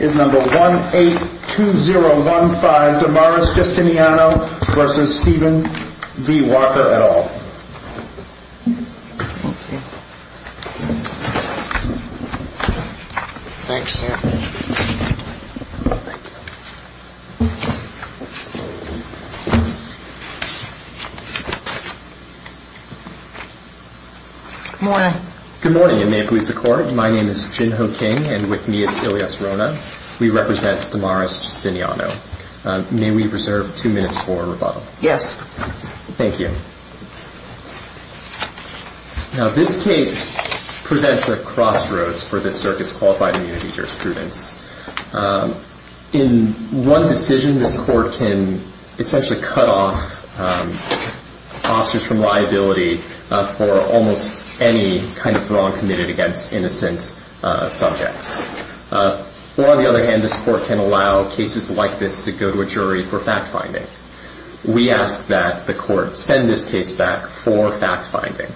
is number one eight two zero one five Damaris Castigliano versus Stephen v. Walker et al. Thank you. Thanks. Good morning. Good morning and may it please the court my name is Jin Ho King and with me Ilias Rona. We represent Damaris Castigliano. May we reserve two minutes for rebuttal? Yes. Thank you. Now this case presents a crossroads for this circuit's qualified immunity jurisprudence. In one decision this court can essentially cut off officers from liability for almost any kind of wrong committed against innocent subjects or on the other hand this court can allow cases like this to go to a jury for fact finding. We ask that the court send this case back for fact finding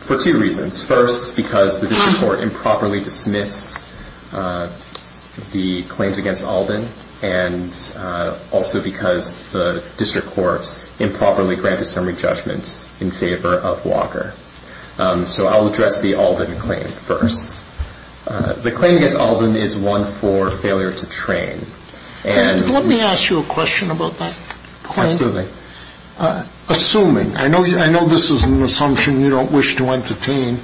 for two reasons. First because the district court improperly dismissed the claims against Alden and also because the district court improperly granted summary judgments in favor of Walker. So I'll address the Alden claim first. The claim against Alden is one for failure to train. Let me ask you a question about that. Absolutely. Assuming, I know this is an assumption you don't wish to entertain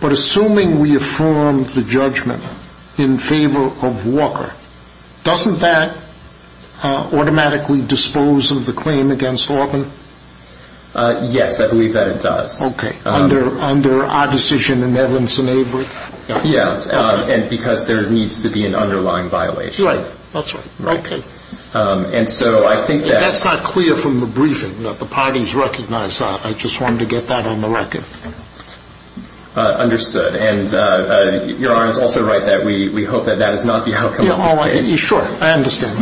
but assuming we affirm the judgment in favor of Walker doesn't that automatically dispose of the claim against Alden? Yes I believe that it does. Okay. Under our decision in Evans and Avery? Yes and because there needs to be an underlying violation. Right. That's right. Okay. And so I think that's not clear from the briefing that the parties recognize that. I just wanted to get that on the record. Understood and your Honor is also right that we hope that that is not the outcome of this case. Sure I understand.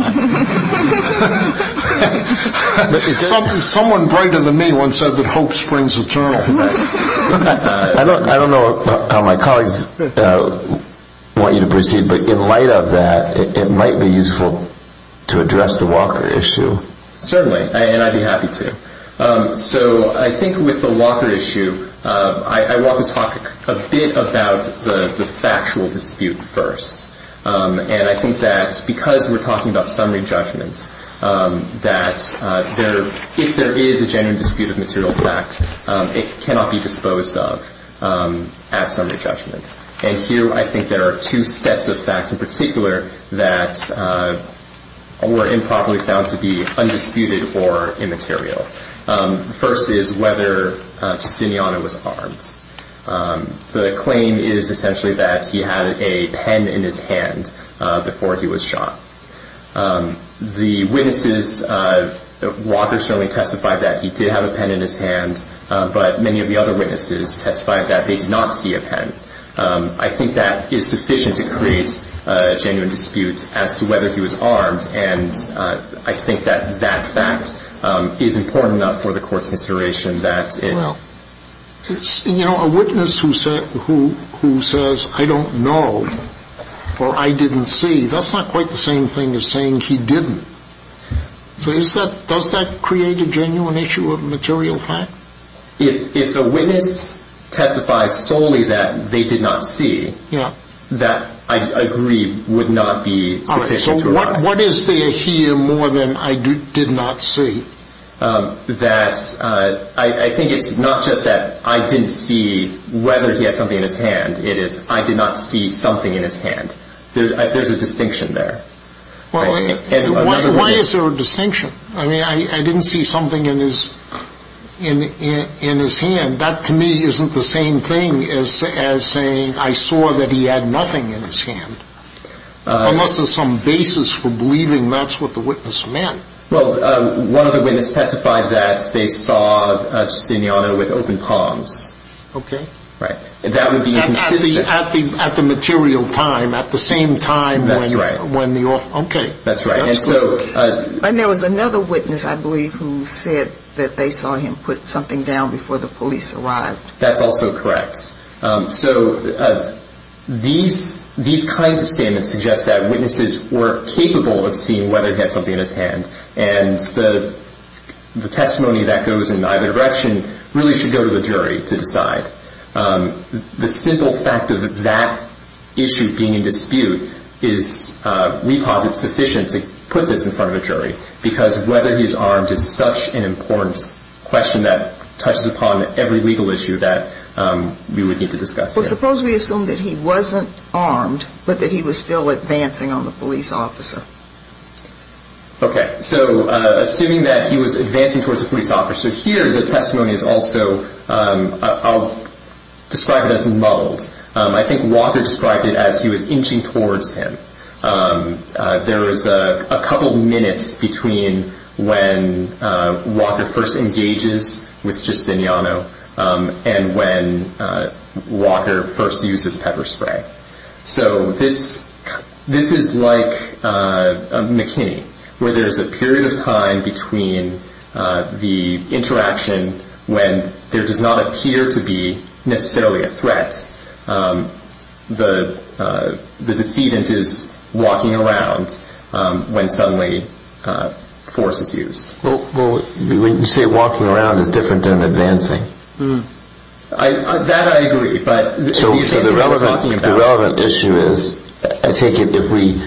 Someone brighter than me once said that hope springs eternal. I don't know how my colleagues want you to proceed but in light of that it might be useful to address the Walker issue. Certainly and I'd be happy to. So I think with the Walker issue I want to talk a bit about the factual dispute first. And I think that because we're talking about summary judgments that if there is a genuine dispute of material fact it cannot be disposed of at summary judgments. And here I think there are two sets of facts in particular that were improperly found to be undisputed or immaterial. First is whether Justiniano was armed. The claim is essentially that he had a pen in his hand before he was shot. The witnesses, Walker certainly testified that he did have a pen in his hand but many of the other witnesses testified that they did not see a pen. I think that is sufficient to create a argument that he was armed. And I think that that fact is important enough for the court's consideration. You know a witness who says I don't know or I didn't see, that's not quite the same thing as saying he didn't. So does that create a genuine issue of material fact? If a witness testifies solely that they did not see, that I agree would not be sufficient. So what is there here more than I did not see? I think it's not just that I didn't see whether he had something in his hand, it is I did not see something in his hand. There's a distinction there. Why is there a distinction? I mean I didn't see something in his hand. That to me isn't the same thing as saying I saw that he had nothing in his hand. Unless there's some basis for believing that's what the witness meant. Well one of the witnesses testified that they saw Justiniano with open palms. Okay. Right. That would be consistent. At the material time, at the same time. That's right. Okay. That's right. And there was another witness I believe who said that they saw him put something down before the police arrived. That's also correct. So these kinds of statements suggest that witnesses were capable of seeing whether he had something in his hand and the testimony that goes in either direction really should go to the jury to decide. The simple fact of that issue being in dispute is we posit sufficient to put this in front of a jury because whether he's armed is such an important question that touches upon every legal issue that we would need to discuss. Well suppose we assume that he wasn't armed but that he was still advancing on the police officer. Okay. So assuming that he was advancing towards the police officer. So here the testimony is also I'll describe it as muddled. I think Walker described it as he was inching towards him. There was a couple minutes between when Walker first engages with Justiniano and when Walker first uses pepper spray. So this is like McKinney where there's a period of time between the interaction when there does not appear to be necessarily a threat. The decedent is walking around when suddenly force is used. Well when you say walking around it's different than advancing. That I agree but the issue is I take it if we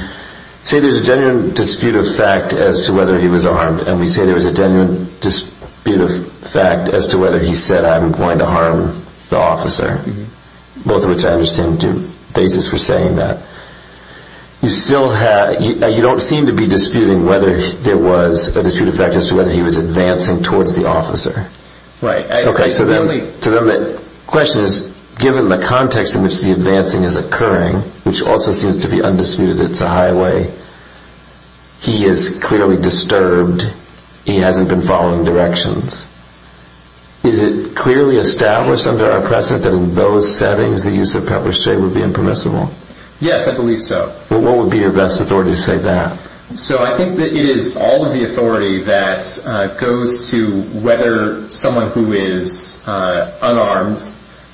say there's a genuine dispute of fact as to whether he was armed and we say there was a genuine dispute of fact as to whether he said I'm going to harm the officer. Both of which I understand do basis for saying that. You still have you don't seem to be disputing whether there was a dispute of fact as to whether he was advancing towards the officer. Right. Okay. So then the question is given the context in which the advancing is occurring which also seems to be undisputed it's a highway. He is clearly disturbed. He hasn't been following directions. Is it clearly established under our precedent that in those settings the use of pepper spray would be impermissible. Yes I believe so. What would be your best authority to So I think that it is all of the authority that goes to whether someone who is unarmed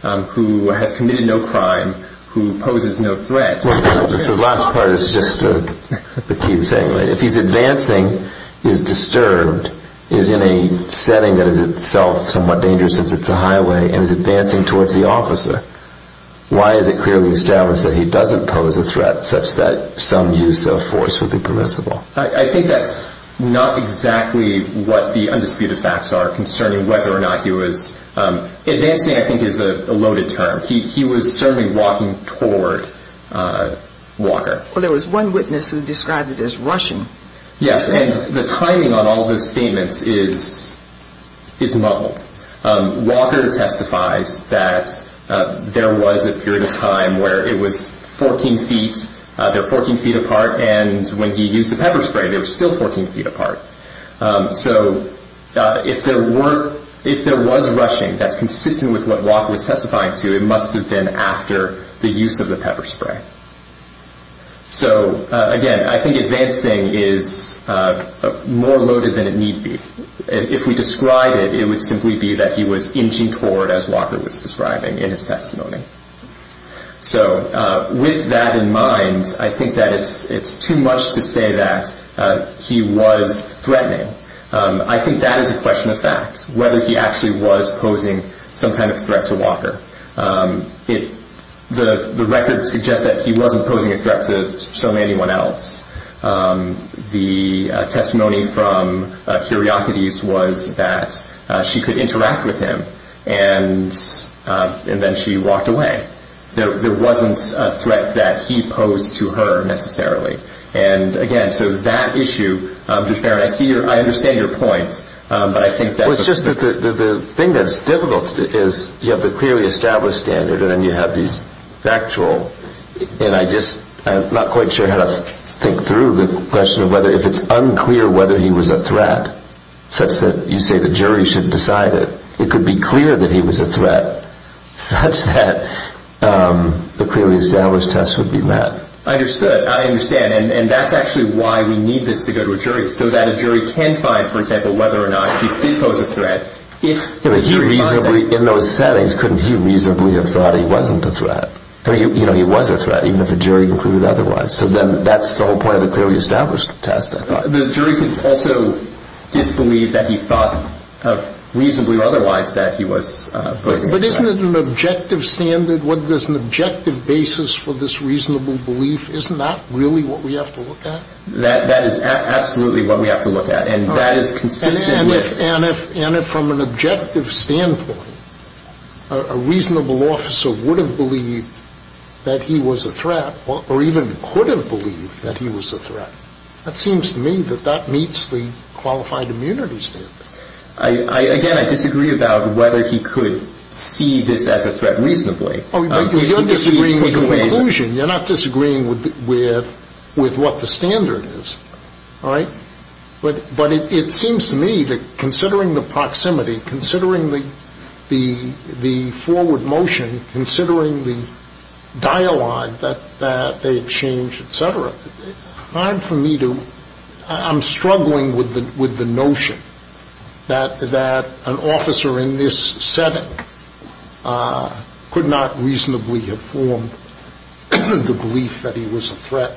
who has committed no crime who poses no threat. The last part is just the key thing. If he's advancing is disturbed is in a setting that is itself somewhat dangerous since it's a highway and is advancing towards the officer. Why is it clearly established that he doesn't pose a threat such that some use of force would be permissible. I think that's not exactly what the undisputed facts are concerning whether or not he was advancing I think is a loaded term. He was certainly walking toward Walker. Well there was one witness who described it as rushing. Yes and the timing on all those statements is is muddled. Walker testifies that there was a period of time where it was 14 feet 14 feet apart and when he used the pepper spray there was still 14 feet apart. So if there were if there was rushing that's consistent with what Walker was testifying to it must have been after the use of the pepper spray. So again I think advancing is more loaded than it need be. If we describe it it would simply be that he was inching toward as Walker was describing in testimony. So with that in mind I think that it's it's too much to say that he was threatening. I think that is a question of fact whether he actually was posing some kind of threat to Walker. It the the record suggests that he wasn't posing a threat to so many anyone else. The testimony from was that she could interact with him and then she walked away. There wasn't a threat that he posed to her necessarily. And again so that issue I see I understand your points but I think that was just the thing that's difficult is you have the clearly established standard and then you have these factual and I just I'm not quite sure how to think through the question of whether if it's such that you say the jury should decide it it could be clear that he was a threat such that the clearly established test would be met. I understood I understand and that's actually why we need this to go to a jury so that a jury can find for example whether or not he did pose a threat. In those settings couldn't he reasonably have thought he wasn't a threat. I mean you know he was a threat even if a jury concluded otherwise. So then that's the whole clearly established test. The jury can also disbelieve that he thought reasonably otherwise that he was. But isn't it an objective standard whether there's an objective basis for this reasonable belief. Isn't that really what we have to look at. That is absolutely what we have to look at and that is consistent. And if from an objective standpoint a reasonable officer would believe that he was a threat or even could have believed that he was a threat. That seems to me that that meets the qualified immunity standard. I again I disagree about whether he could see this as a threat reasonably. You're disagreeing with the conclusion. You're not disagreeing with what the standard is. All right. But it seems to me that considering the proximity considering the forward motion considering the dialogue that they exchange etc. I'm for me to I'm struggling with the with the notion that that an officer in this setting could not reasonably have formed the belief that he was a threat.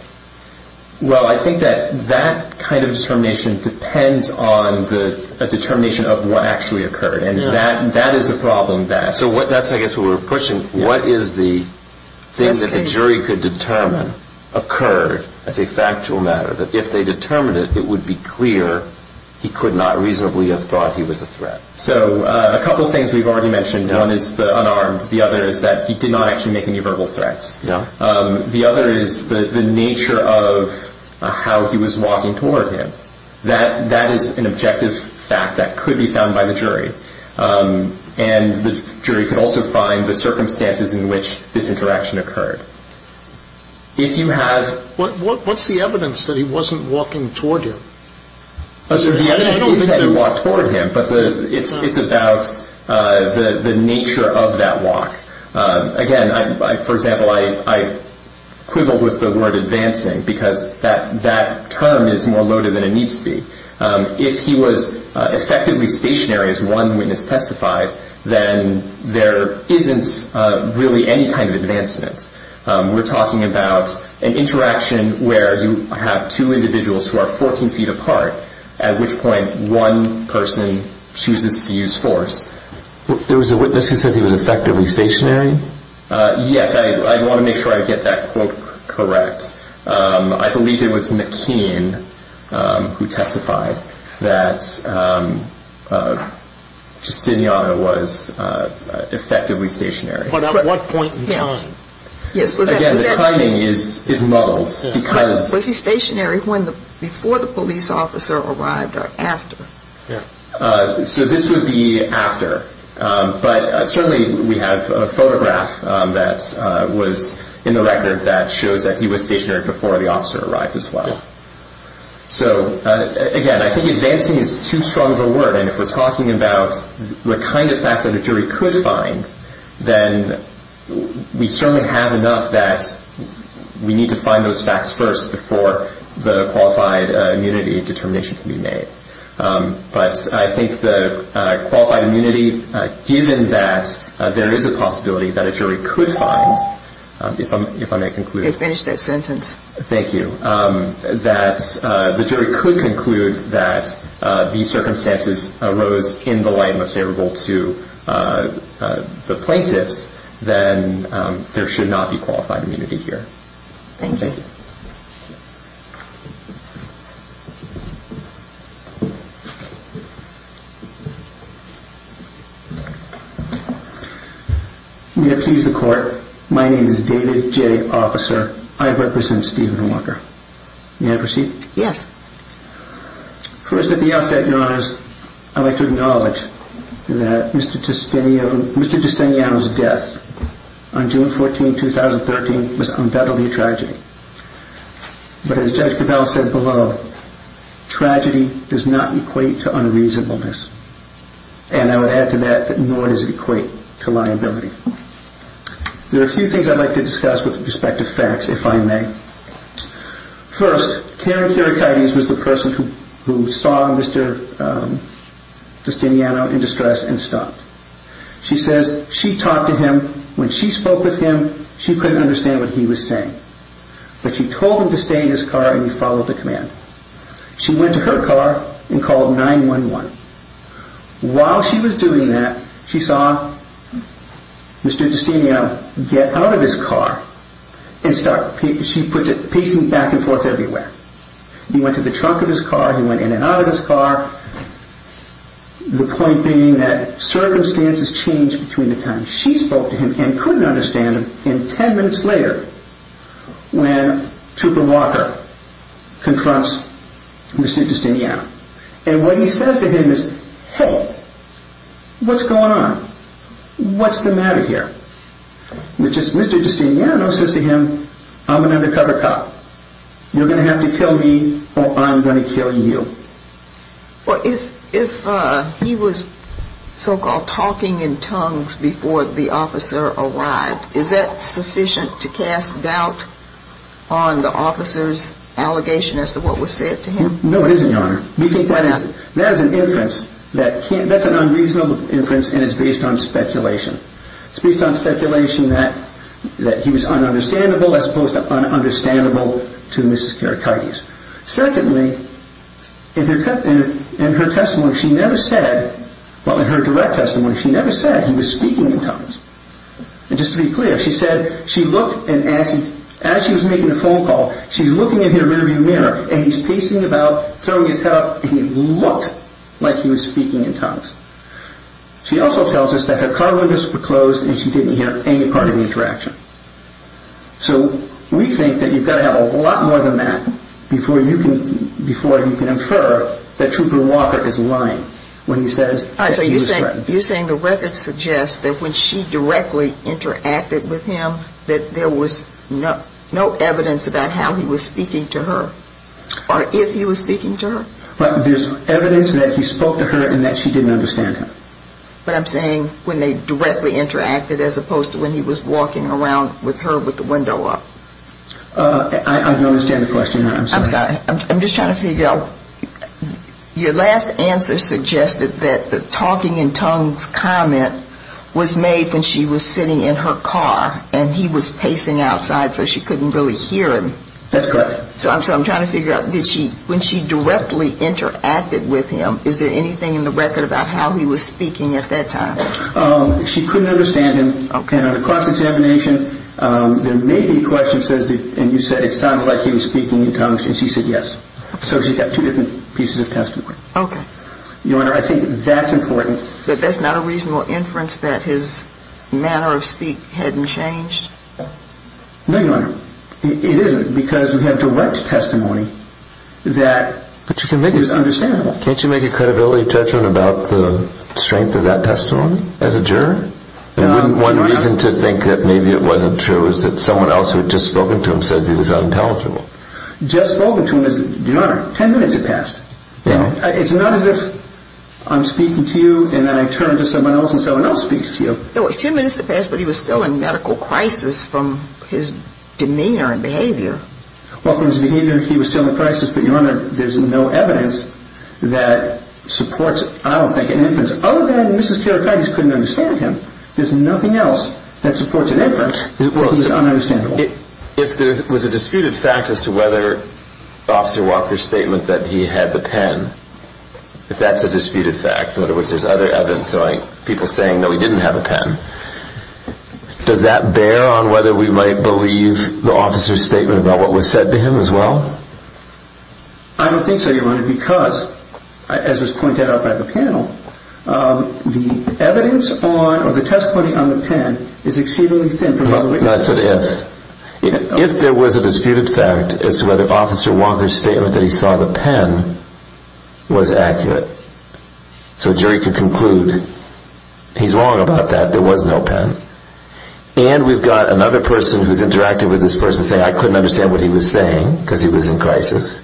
Well I think that that kind of determination depends on the determination of what actually occurred and that that is a problem. So what that's I guess what we're pushing. What is the things that the jury could determine occurred as a factual matter that if they determined it it would be clear he could not reasonably have thought he was a threat. So a couple of things we've already mentioned. One is the unarmed. The other is that he did not actually make any verbal threats. The other is the nature of how he was walking toward him. That that is an objective fact that could be found by the jury and the jury could also find the circumstances in which this interaction occurred. If you have what what what's the evidence that he wasn't walking toward you. So the evidence is that he walked toward him but it's it's about the nature of that walk. Again I for example I I quibble with the word advancing because that that term is more loaded than it needs to be. If he was effectively stationary as one witness testified then there isn't really any kind of advancement. We're talking about an interaction where you have two individuals who are 14 feet apart at which point one person chooses to use force. There was a witness who says he was effectively stationary. Yes I want to make sure I get that quote correct. I believe it was McKean who testified that Justiniano was effectively stationary. But at what point in time? Yes again the timing is is muddles because. Was he stationary when the before the police officer arrived or after? Yeah so this would be after but certainly we have a photograph that was in the record that shows that he was stationary before the officer arrived as well. So again I think advancing is too strong of a word and if we're talking about what kind of facts that a jury could find then we certainly have enough that we need to find those facts first before the qualified immunity determination can be made. But I think the qualified immunity given that there is a possibility that a jury could find if I may conclude. Finish that sentence. Thank you that the jury could conclude that these circumstances arose in the light most favorable to the plaintiffs then there should not be qualified immunity here. Thank you. May I please the court? My name is David J. Officer. I represent Stephen Walker. May I proceed? Yes. First at the outset your honors I'd like to acknowledge that Mr. Justiniano's death on June 14, 2013 was undoubtedly a tragedy. But as Judge Gravel said below tragedy does not equate to unreasonableness and I would add to that that nor does it equate to liability. There are a few things I'd like to discuss with respect to facts if I may. First Karen Kirikides was the person who saw Mr. Justiniano in distress and stopped. She says she talked to him. When she spoke with him she couldn't understand what he was saying. But she told him to stay in his car and he followed the command. She went to her car and called 911. While she was doing that she saw Mr. Justiniano get out of his car and start pacing back and forth everywhere. He went to the trunk of his car. He went in and out of his car. The point being that circumstances changed between the time she spoke to him and couldn't understand him. And ten minutes later when Tupper Walker confronts Mr. Justiniano and what he says to him is hey what's going on? What's the matter here? Which is Mr. Justiniano says to me or I'm going to kill you. If he was so-called talking in tongues before the officer arrived, is that sufficient to cast doubt on the officer's allegation as to what was said to him? No it isn't your honor. That is an inference. That's an unreasonable inference and it's based on speculation. It's based on speculation that he was understandable as opposed to not understandable to Mrs. Karikaitis. Secondly, in her direct testimony she never said he was speaking in tongues. Just to be clear, she said she looked and as she was making the phone call she's looking in her rear view mirror and he's pacing about throwing his head up and he looked like he was speaking in tongues. She also tells us that her car windows were closed and she didn't hear any part of the interaction. So we think that you've got to have a lot more than that before you can infer that Tupper Walker is lying. You're saying the records suggest that when she directly interacted with him that there was no evidence about how he was speaking to her or if he was speaking to her? There's evidence that he spoke to her and that she didn't understand him. But I'm saying when they directly interacted as opposed to when he was walking around with her with the window up. I don't understand the question. I'm sorry. I'm just trying to figure out your last answer suggested that the talking in tongues comment was made when she was sitting in her car and he was pacing outside so she couldn't really hear him. That's correct. So I'm trying to figure out did she when she directly interacted with him is there anything in the record that suggests that he was speaking at that time? She couldn't understand him and across examination there may be questions and you said it sounded like he was speaking in tongues and she said yes. So she got two different pieces of testimony. Okay. Your Honor, I think that's important. But that's not a reasonable inference that his manner of speak hadn't changed? No, Your Honor, it isn't because we have direct testimony that is understandable. Can't you make a credibility judgment about the strength of that testimony as a juror? One reason to think that maybe it wasn't true is that someone else who had just spoken to him says he was unintelligible. Just spoken to him, Your Honor, ten minutes had passed. It's not as if I'm speaking to you and then I turn to someone else and someone else speaks to you. No, ten minutes had passed but he was still in medical crisis from his demeanor and behavior. Well, from his behavior he was still in crisis but, Your Honor, there's no evidence that supports, I don't think, an inference other than Mrs. Kiarikides couldn't understand him. There's nothing else that supports an inference that's ununderstandable. If there was a disputed fact as to whether Officer Walker's statement that he had the pen, if that's a disputed fact, in other words there's other evidence showing people saying that he probably didn't have a pen, does that bear on whether we might believe the officer's statement about what was said to him as well? I don't think so, Your Honor, because, as was pointed out by the panel, the evidence on or the testimony on the pen is exceedingly thin. That's an if. If there was a disputed fact as to whether a jury could conclude he's wrong about that, there was no pen, and we've got another person who's interacting with this person saying I couldn't understand what he was saying because he was in crisis,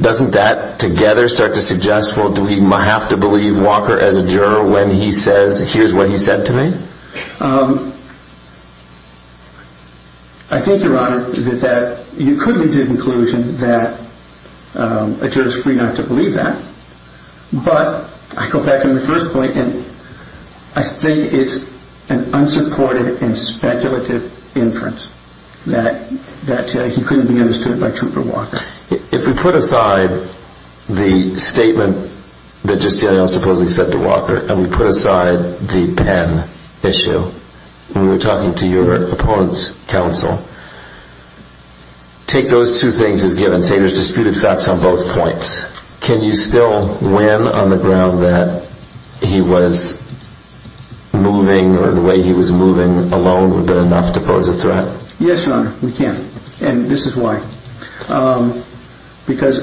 doesn't that together start to suggest, well, do we have to believe Walker as a juror when he says here's what he said to me? I think, Your Honor, that you could be to the conclusion that a juror's free not to believe that, but I go back to my first point and I think it's an unsupported and speculative inference that he couldn't be understood by Trooper Walker. If we put aside the statement that Justine O'Neill supposedly said to Walker and we put aside the pen issue when we were talking to your opponent's counsel, take those two things as given. Say there's disputed facts on both points. Can you still win on the ground that he was moving or the way he was moving alone would be enough to pose a threat? Yes, Your Honor, we can, and this is why. Because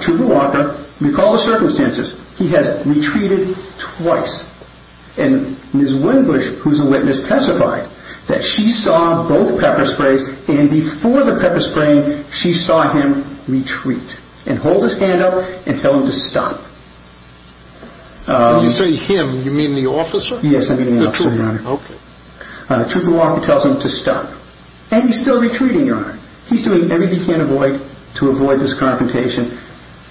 Trooper Walker, recall the circumstances, he has retreated twice, and Ms. Windbush, who's a witness, testified that she saw both pepper sprays and before the pepper spraying, she saw him retreat and hold his hand up and tell him to stop. When you say him, you mean the officer? Yes, I mean the officer, Your Honor. Okay. Trooper Walker tells him to stop, and he's still retreating, Your Honor. He's doing everything he can avoid to avoid this confrontation.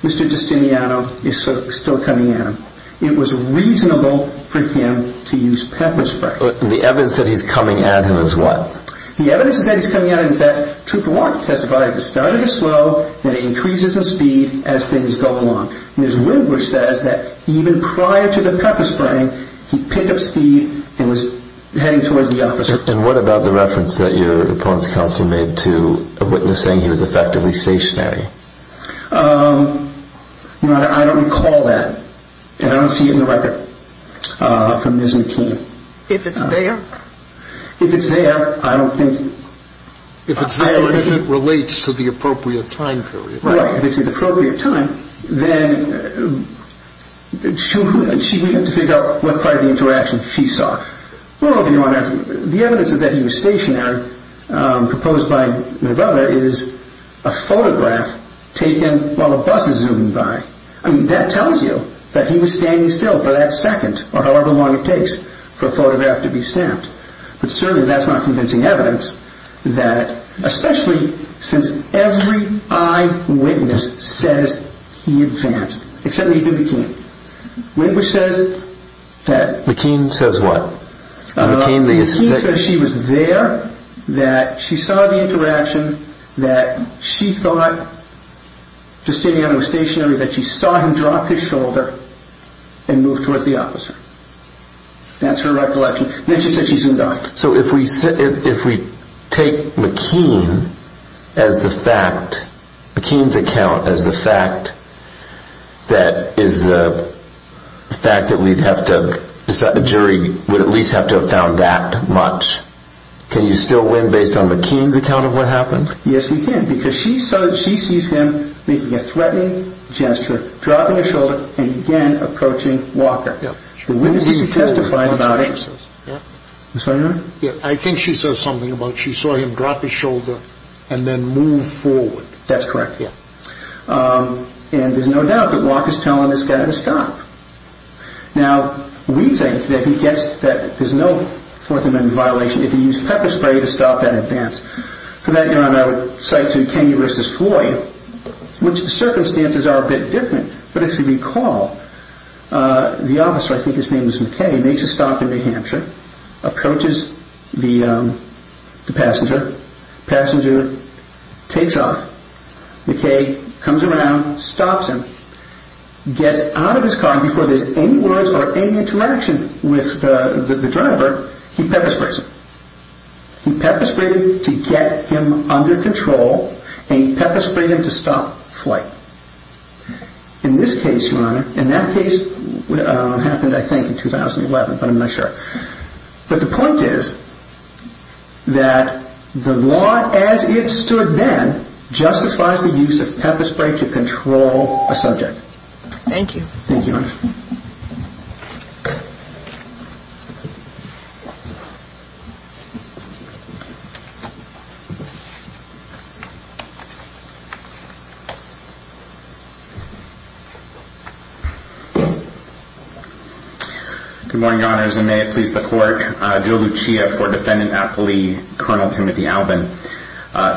Mr. Justineano is still coming at him. It was reasonable for him to use pepper spray. The evidence that he's coming at him is what? The evidence that he's coming at him is that Trooper Walker testified that the starter is slow, that it increases in speed as things go along. Ms. Windbush says that even prior to the pepper spraying, he picked up speed and was heading towards the officer. And what about the reference that your opponent's counsel made to a witness saying he was effectively stationary? I don't recall that, and I don't see it in the record from Ms. McKean. If it's there? If it's there, I don't think... If it's there and if it relates to the appropriate time period. Right. If it's the appropriate time, then she would have to figure out what part of the interaction she saw. Well, Your Honor, the evidence that he was stationary proposed by my brother is a photograph taken while the bus is zooming by. I mean, that tells you that he was standing still for that second or however long it takes for a photograph to be snapped. But certainly that's not convincing evidence that, especially since every eyewitness says he advanced, except Nathan McKean. Windbush says that... McKean says what? McKean says she was there, that she saw the interaction, that she thought just standing there was stationary, that she saw him drop his shoulder and move towards the officer. That's her recollection. Then she said she's indicted. So if we take McKean as the fact, McKean's account as the fact that is the fact that we'd have to decide, the jury would at least have to have found that much, can you still win based on McKean's account of what happened? Yes, you can, because she sees him making a threatening gesture, dropping his shoulder, and again approaching Walker. The witnesses testified about it. I think she says something about she saw him drop his shoulder and then move forward. That's correct. And there's no doubt that Walker's telling this guy to stop. Now, we think that there's no Fourth Amendment violation if you use pepper spray to stop that advance. For that, I would cite Kenya v. Floyd, which the circumstances are a bit different, but if you recall, the officer, I think his name was McKean, makes a stop in New Hampshire, approaches the passenger, passenger takes off, McKean comes around, stops him, gets out of his car before there's any words or any interaction with the driver, he pepper sprays him. He pepper sprayed him to get him under control, and he pepper sprayed him to stop flight. In this case, Your Honor, and that case happened, I think, in 2011, but I'm not sure. But the point is that the law as it stood then justifies the use of pepper spray to control a subject. Thank you. Thank you, Your Honor. Good morning, Your Honors, and may it please the Court. Joe Lucia for Defendant at Poli, Colonel Timothy Albin.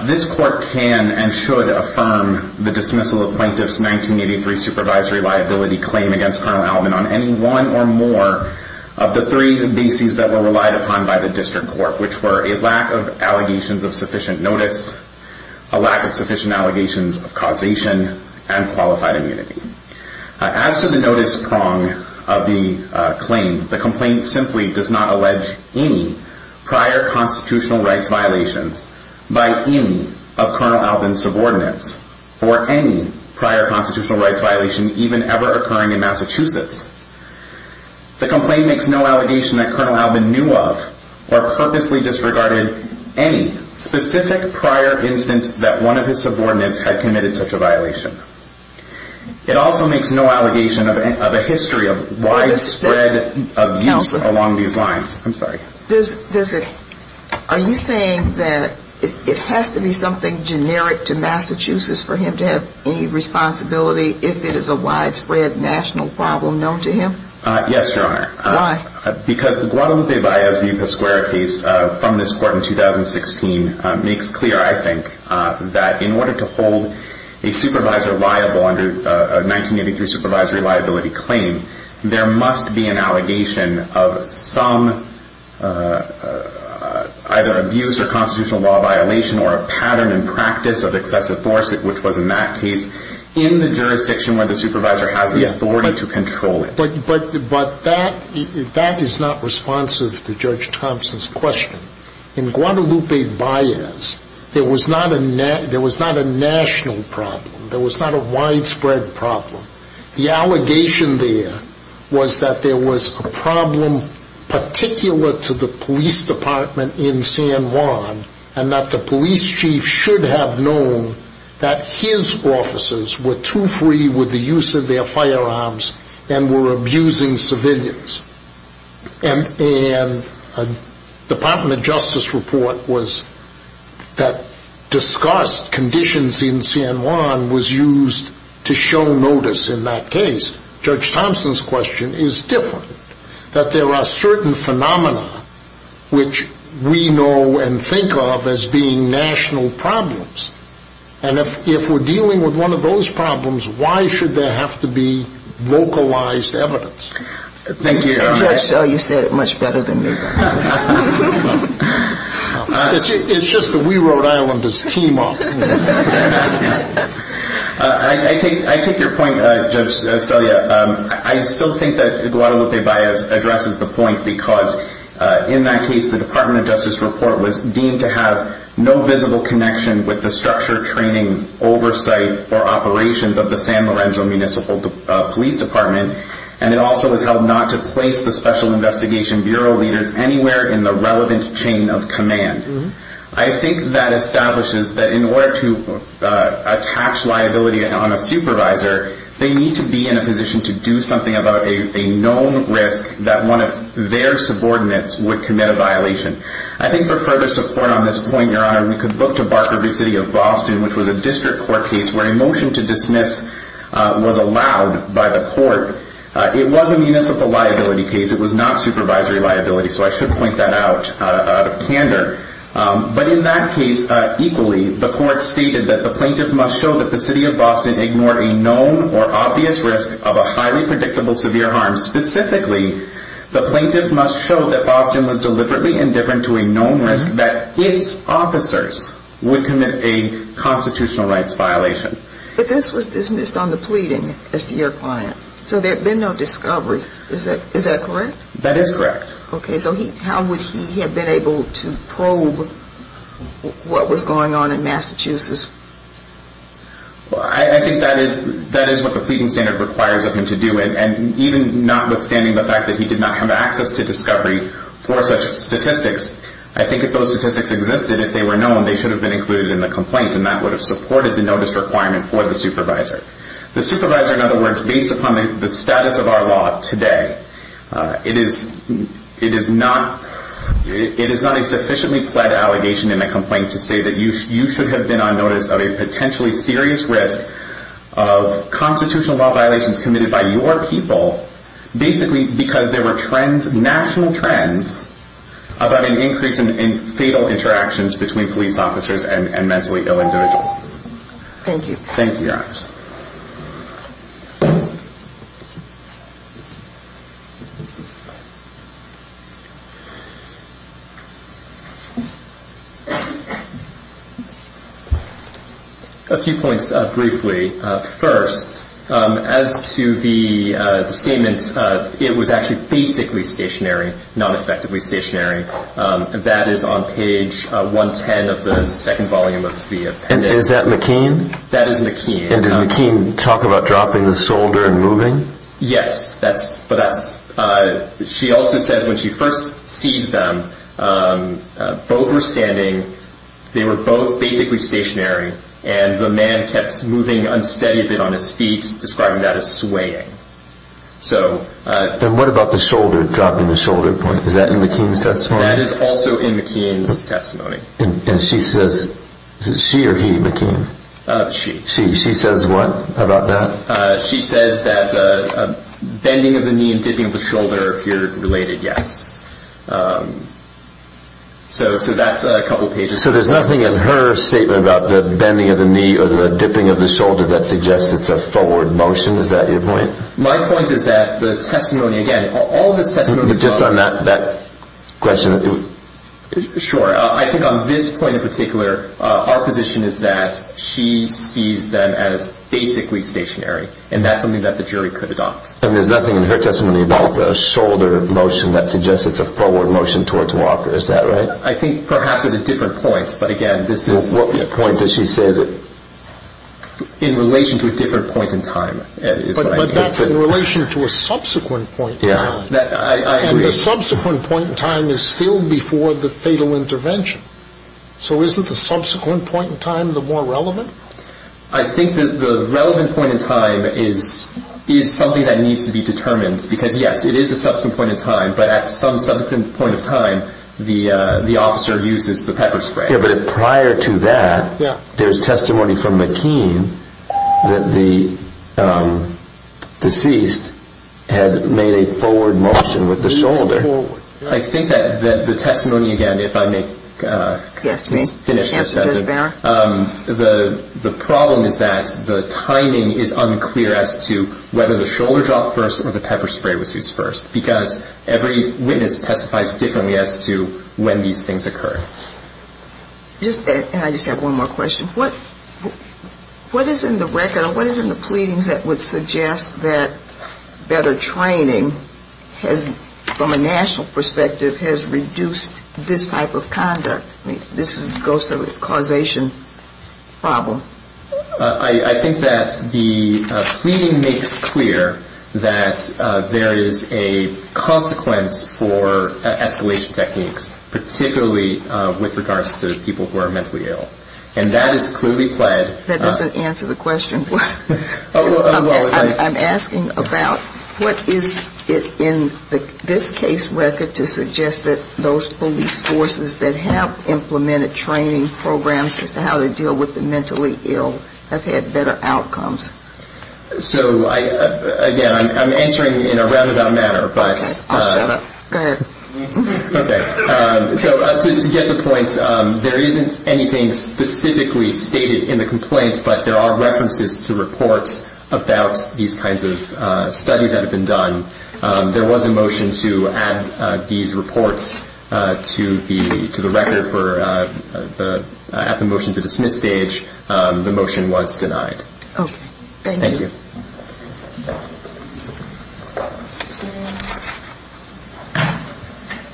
This Court can and should affirm the dismissal of plaintiff's 1983 supervisory liability claim against Colonel Albin on any one or more of the three bases that were relied upon by the District Court, which were a lack of allegations of sufficient notice, a lack of sufficient allegations of causation, and qualified immunity. As to the notice prong of the claim, the complaint simply does not allege any prior constitutional rights violations by any of Colonel Albin's subordinates or any prior constitutional rights violation even ever occurring in Massachusetts. The complaint makes no allegation that Colonel Albin knew of or purposely disregarded any specific prior instance that one of his subordinates had committed such a violation. It also makes no allegation of a history of widespread abuse along these lines. I'm sorry. Are you saying that it has to be something generic to Massachusetts for him to have any responsibility if it is a widespread national problem known to him? Yes, Your Honor. Why? Because the Guadalupe Valles v. Pasquera case from this Court in 2016 makes clear, I think, that in order to hold a supervisor liable under a 1983 supervisory liability claim, there must be an allegation of some either abuse or constitutional law violation or a pattern and practice of excessive force, which was in that case, in the jurisdiction where the supervisor has the authority to control it. But that is not responsive to Judge Thompson's question. In Guadalupe Valles, there was not a national problem. There was not a widespread problem. The allegation there was that there was a problem particular to the police department in firearms and were abusing civilians. And the Department of Justice report was that disgust conditions in San Juan was used to show notice in that case. Judge Thompson's question is different. That there are certain phenomena which we know and think of as being national problems. And if we're dealing with one of those problems, why should there have to be vocalized evidence? Thank you, Your Honor. Judge Selya, you said it much better than me. It's just that we Rhode Islanders team up. I take your point, Judge Selya. I still think that Guadalupe Valles addresses the point because in that case, the Department of Justice report was deemed to have no visible connection with the structure, training, oversight, or operations of the San Lorenzo Municipal Police Department. And it also was held not to place the Special Investigation Bureau leaders anywhere in the relevant chain of command. I think that establishes that in order to attach liability on a supervisor, they need to be in a position to do something about a known risk that one of their subordinates would commit a violation. I think for further support on this point, Your Honor, we could look to Barker v. City of Boston, which was a district court case where a motion to dismiss was allowed by the court. It was a municipal liability case. It was not supervisory liability, so I should point that out of candor. But in that case, equally, the court stated that the plaintiff must show that the City of Boston ignored a known or obvious risk of a highly predictable severe harm. Specifically, the plaintiff must show that Boston was deliberately indifferent to a known risk that its officers would commit a constitutional rights violation. But this was dismissed on the pleading as to your client, so there had been no discovery. Is that correct? That is correct. Okay, so how would he have been able to probe what was going on in Massachusetts? Well, I think that is what the pleading standard requires of him to do, and even notwithstanding the fact that he did not have access to discovery for such statistics, I think if those statistics existed, if they were known, they should have been included in the complaint, and that would have supported the notice requirement for the supervisor. The supervisor, in other words, based upon the status of our law today, it is not a sufficiently pled allegation in a complaint to that you should have been on notice of a potentially serious risk of constitutional law violations committed by your people, basically because there were trends, national trends, about an increase in fatal interactions between police officers and mentally ill individuals. Thank you, Your Honors. Thank you. A few points briefly. First, as to the statement, it was actually basically stationary, not effectively stationary. That is on page 110 of the second volume of the appendix. And is that McKean? That is McKean. And does McKean talk about dropping the soldier and moving? Yes. She also says when she first sees them, both were standing, they were both basically stationary, and the man kept moving unsteadily on his feet, describing that as swaying. And what about the shoulder, dropping the shoulder point? Is that in McKean's testimony? That is also in McKean's testimony. And she says, is it she or he, McKean? She. She says what about that? She says that bending of the knee and dipping of the shoulder appear related, yes. So that's a couple of pages. So there's nothing in her statement about the bending of the knee or the dipping of the shoulder that suggests it's a forward motion? Is that your point? My point is that the testimony, again, all of the testimonies... Just on that question. Sure. I think on this point in particular, our position is that she sees them as basically stationary, and that's something that the jury could adopt. And there's nothing in her testimony about the shoulder motion that suggests it's a forward motion towards Walker. Is that right? I think perhaps at a different point. But again, this is... What point does she say that? In relation to a different point in time. But that's in relation to a subsequent point. Yeah, I agree. And the subsequent point in time is still before the fatal intervention. So isn't the subsequent point in time the more relevant? I think that the relevant point in time is something that needs to be determined. Because yes, it is a subsequent point in time. But at some subsequent point in time, the officer uses the pepper spray. Yeah, but prior to that, there's testimony from McKean that the deceased had made a forward motion with the shoulder. I think that the testimony, again, if I may finish this. The problem is that the timing is unclear as to whether the shoulder drop first or the pepper spray was used first. Because every witness testifies differently as to when these things occur. And I just have one more question. What is in the record or what is in the pleadings that would suggest that better training from a national perspective has reduced this type of conduct? This goes to the causation problem. I think that the pleading makes clear that there is a consequence for escalation techniques, particularly with regards to people who are mentally ill. And that is clearly pled. That doesn't answer the question. Well, I'm asking about what is it in this case record to suggest that those police forces that have implemented training programs as to how to deal with the mentally ill have had better outcomes. So again, I'm answering in a roundabout manner. Okay, I'll shut up. Go ahead. Okay. So to get the point, there isn't anything specifically stated in the complaint. But there are references to reports about these kinds of studies that have been done. There was a motion to add these reports to the record at the motion to dismiss stage. The motion was denied. Okay. Thank you.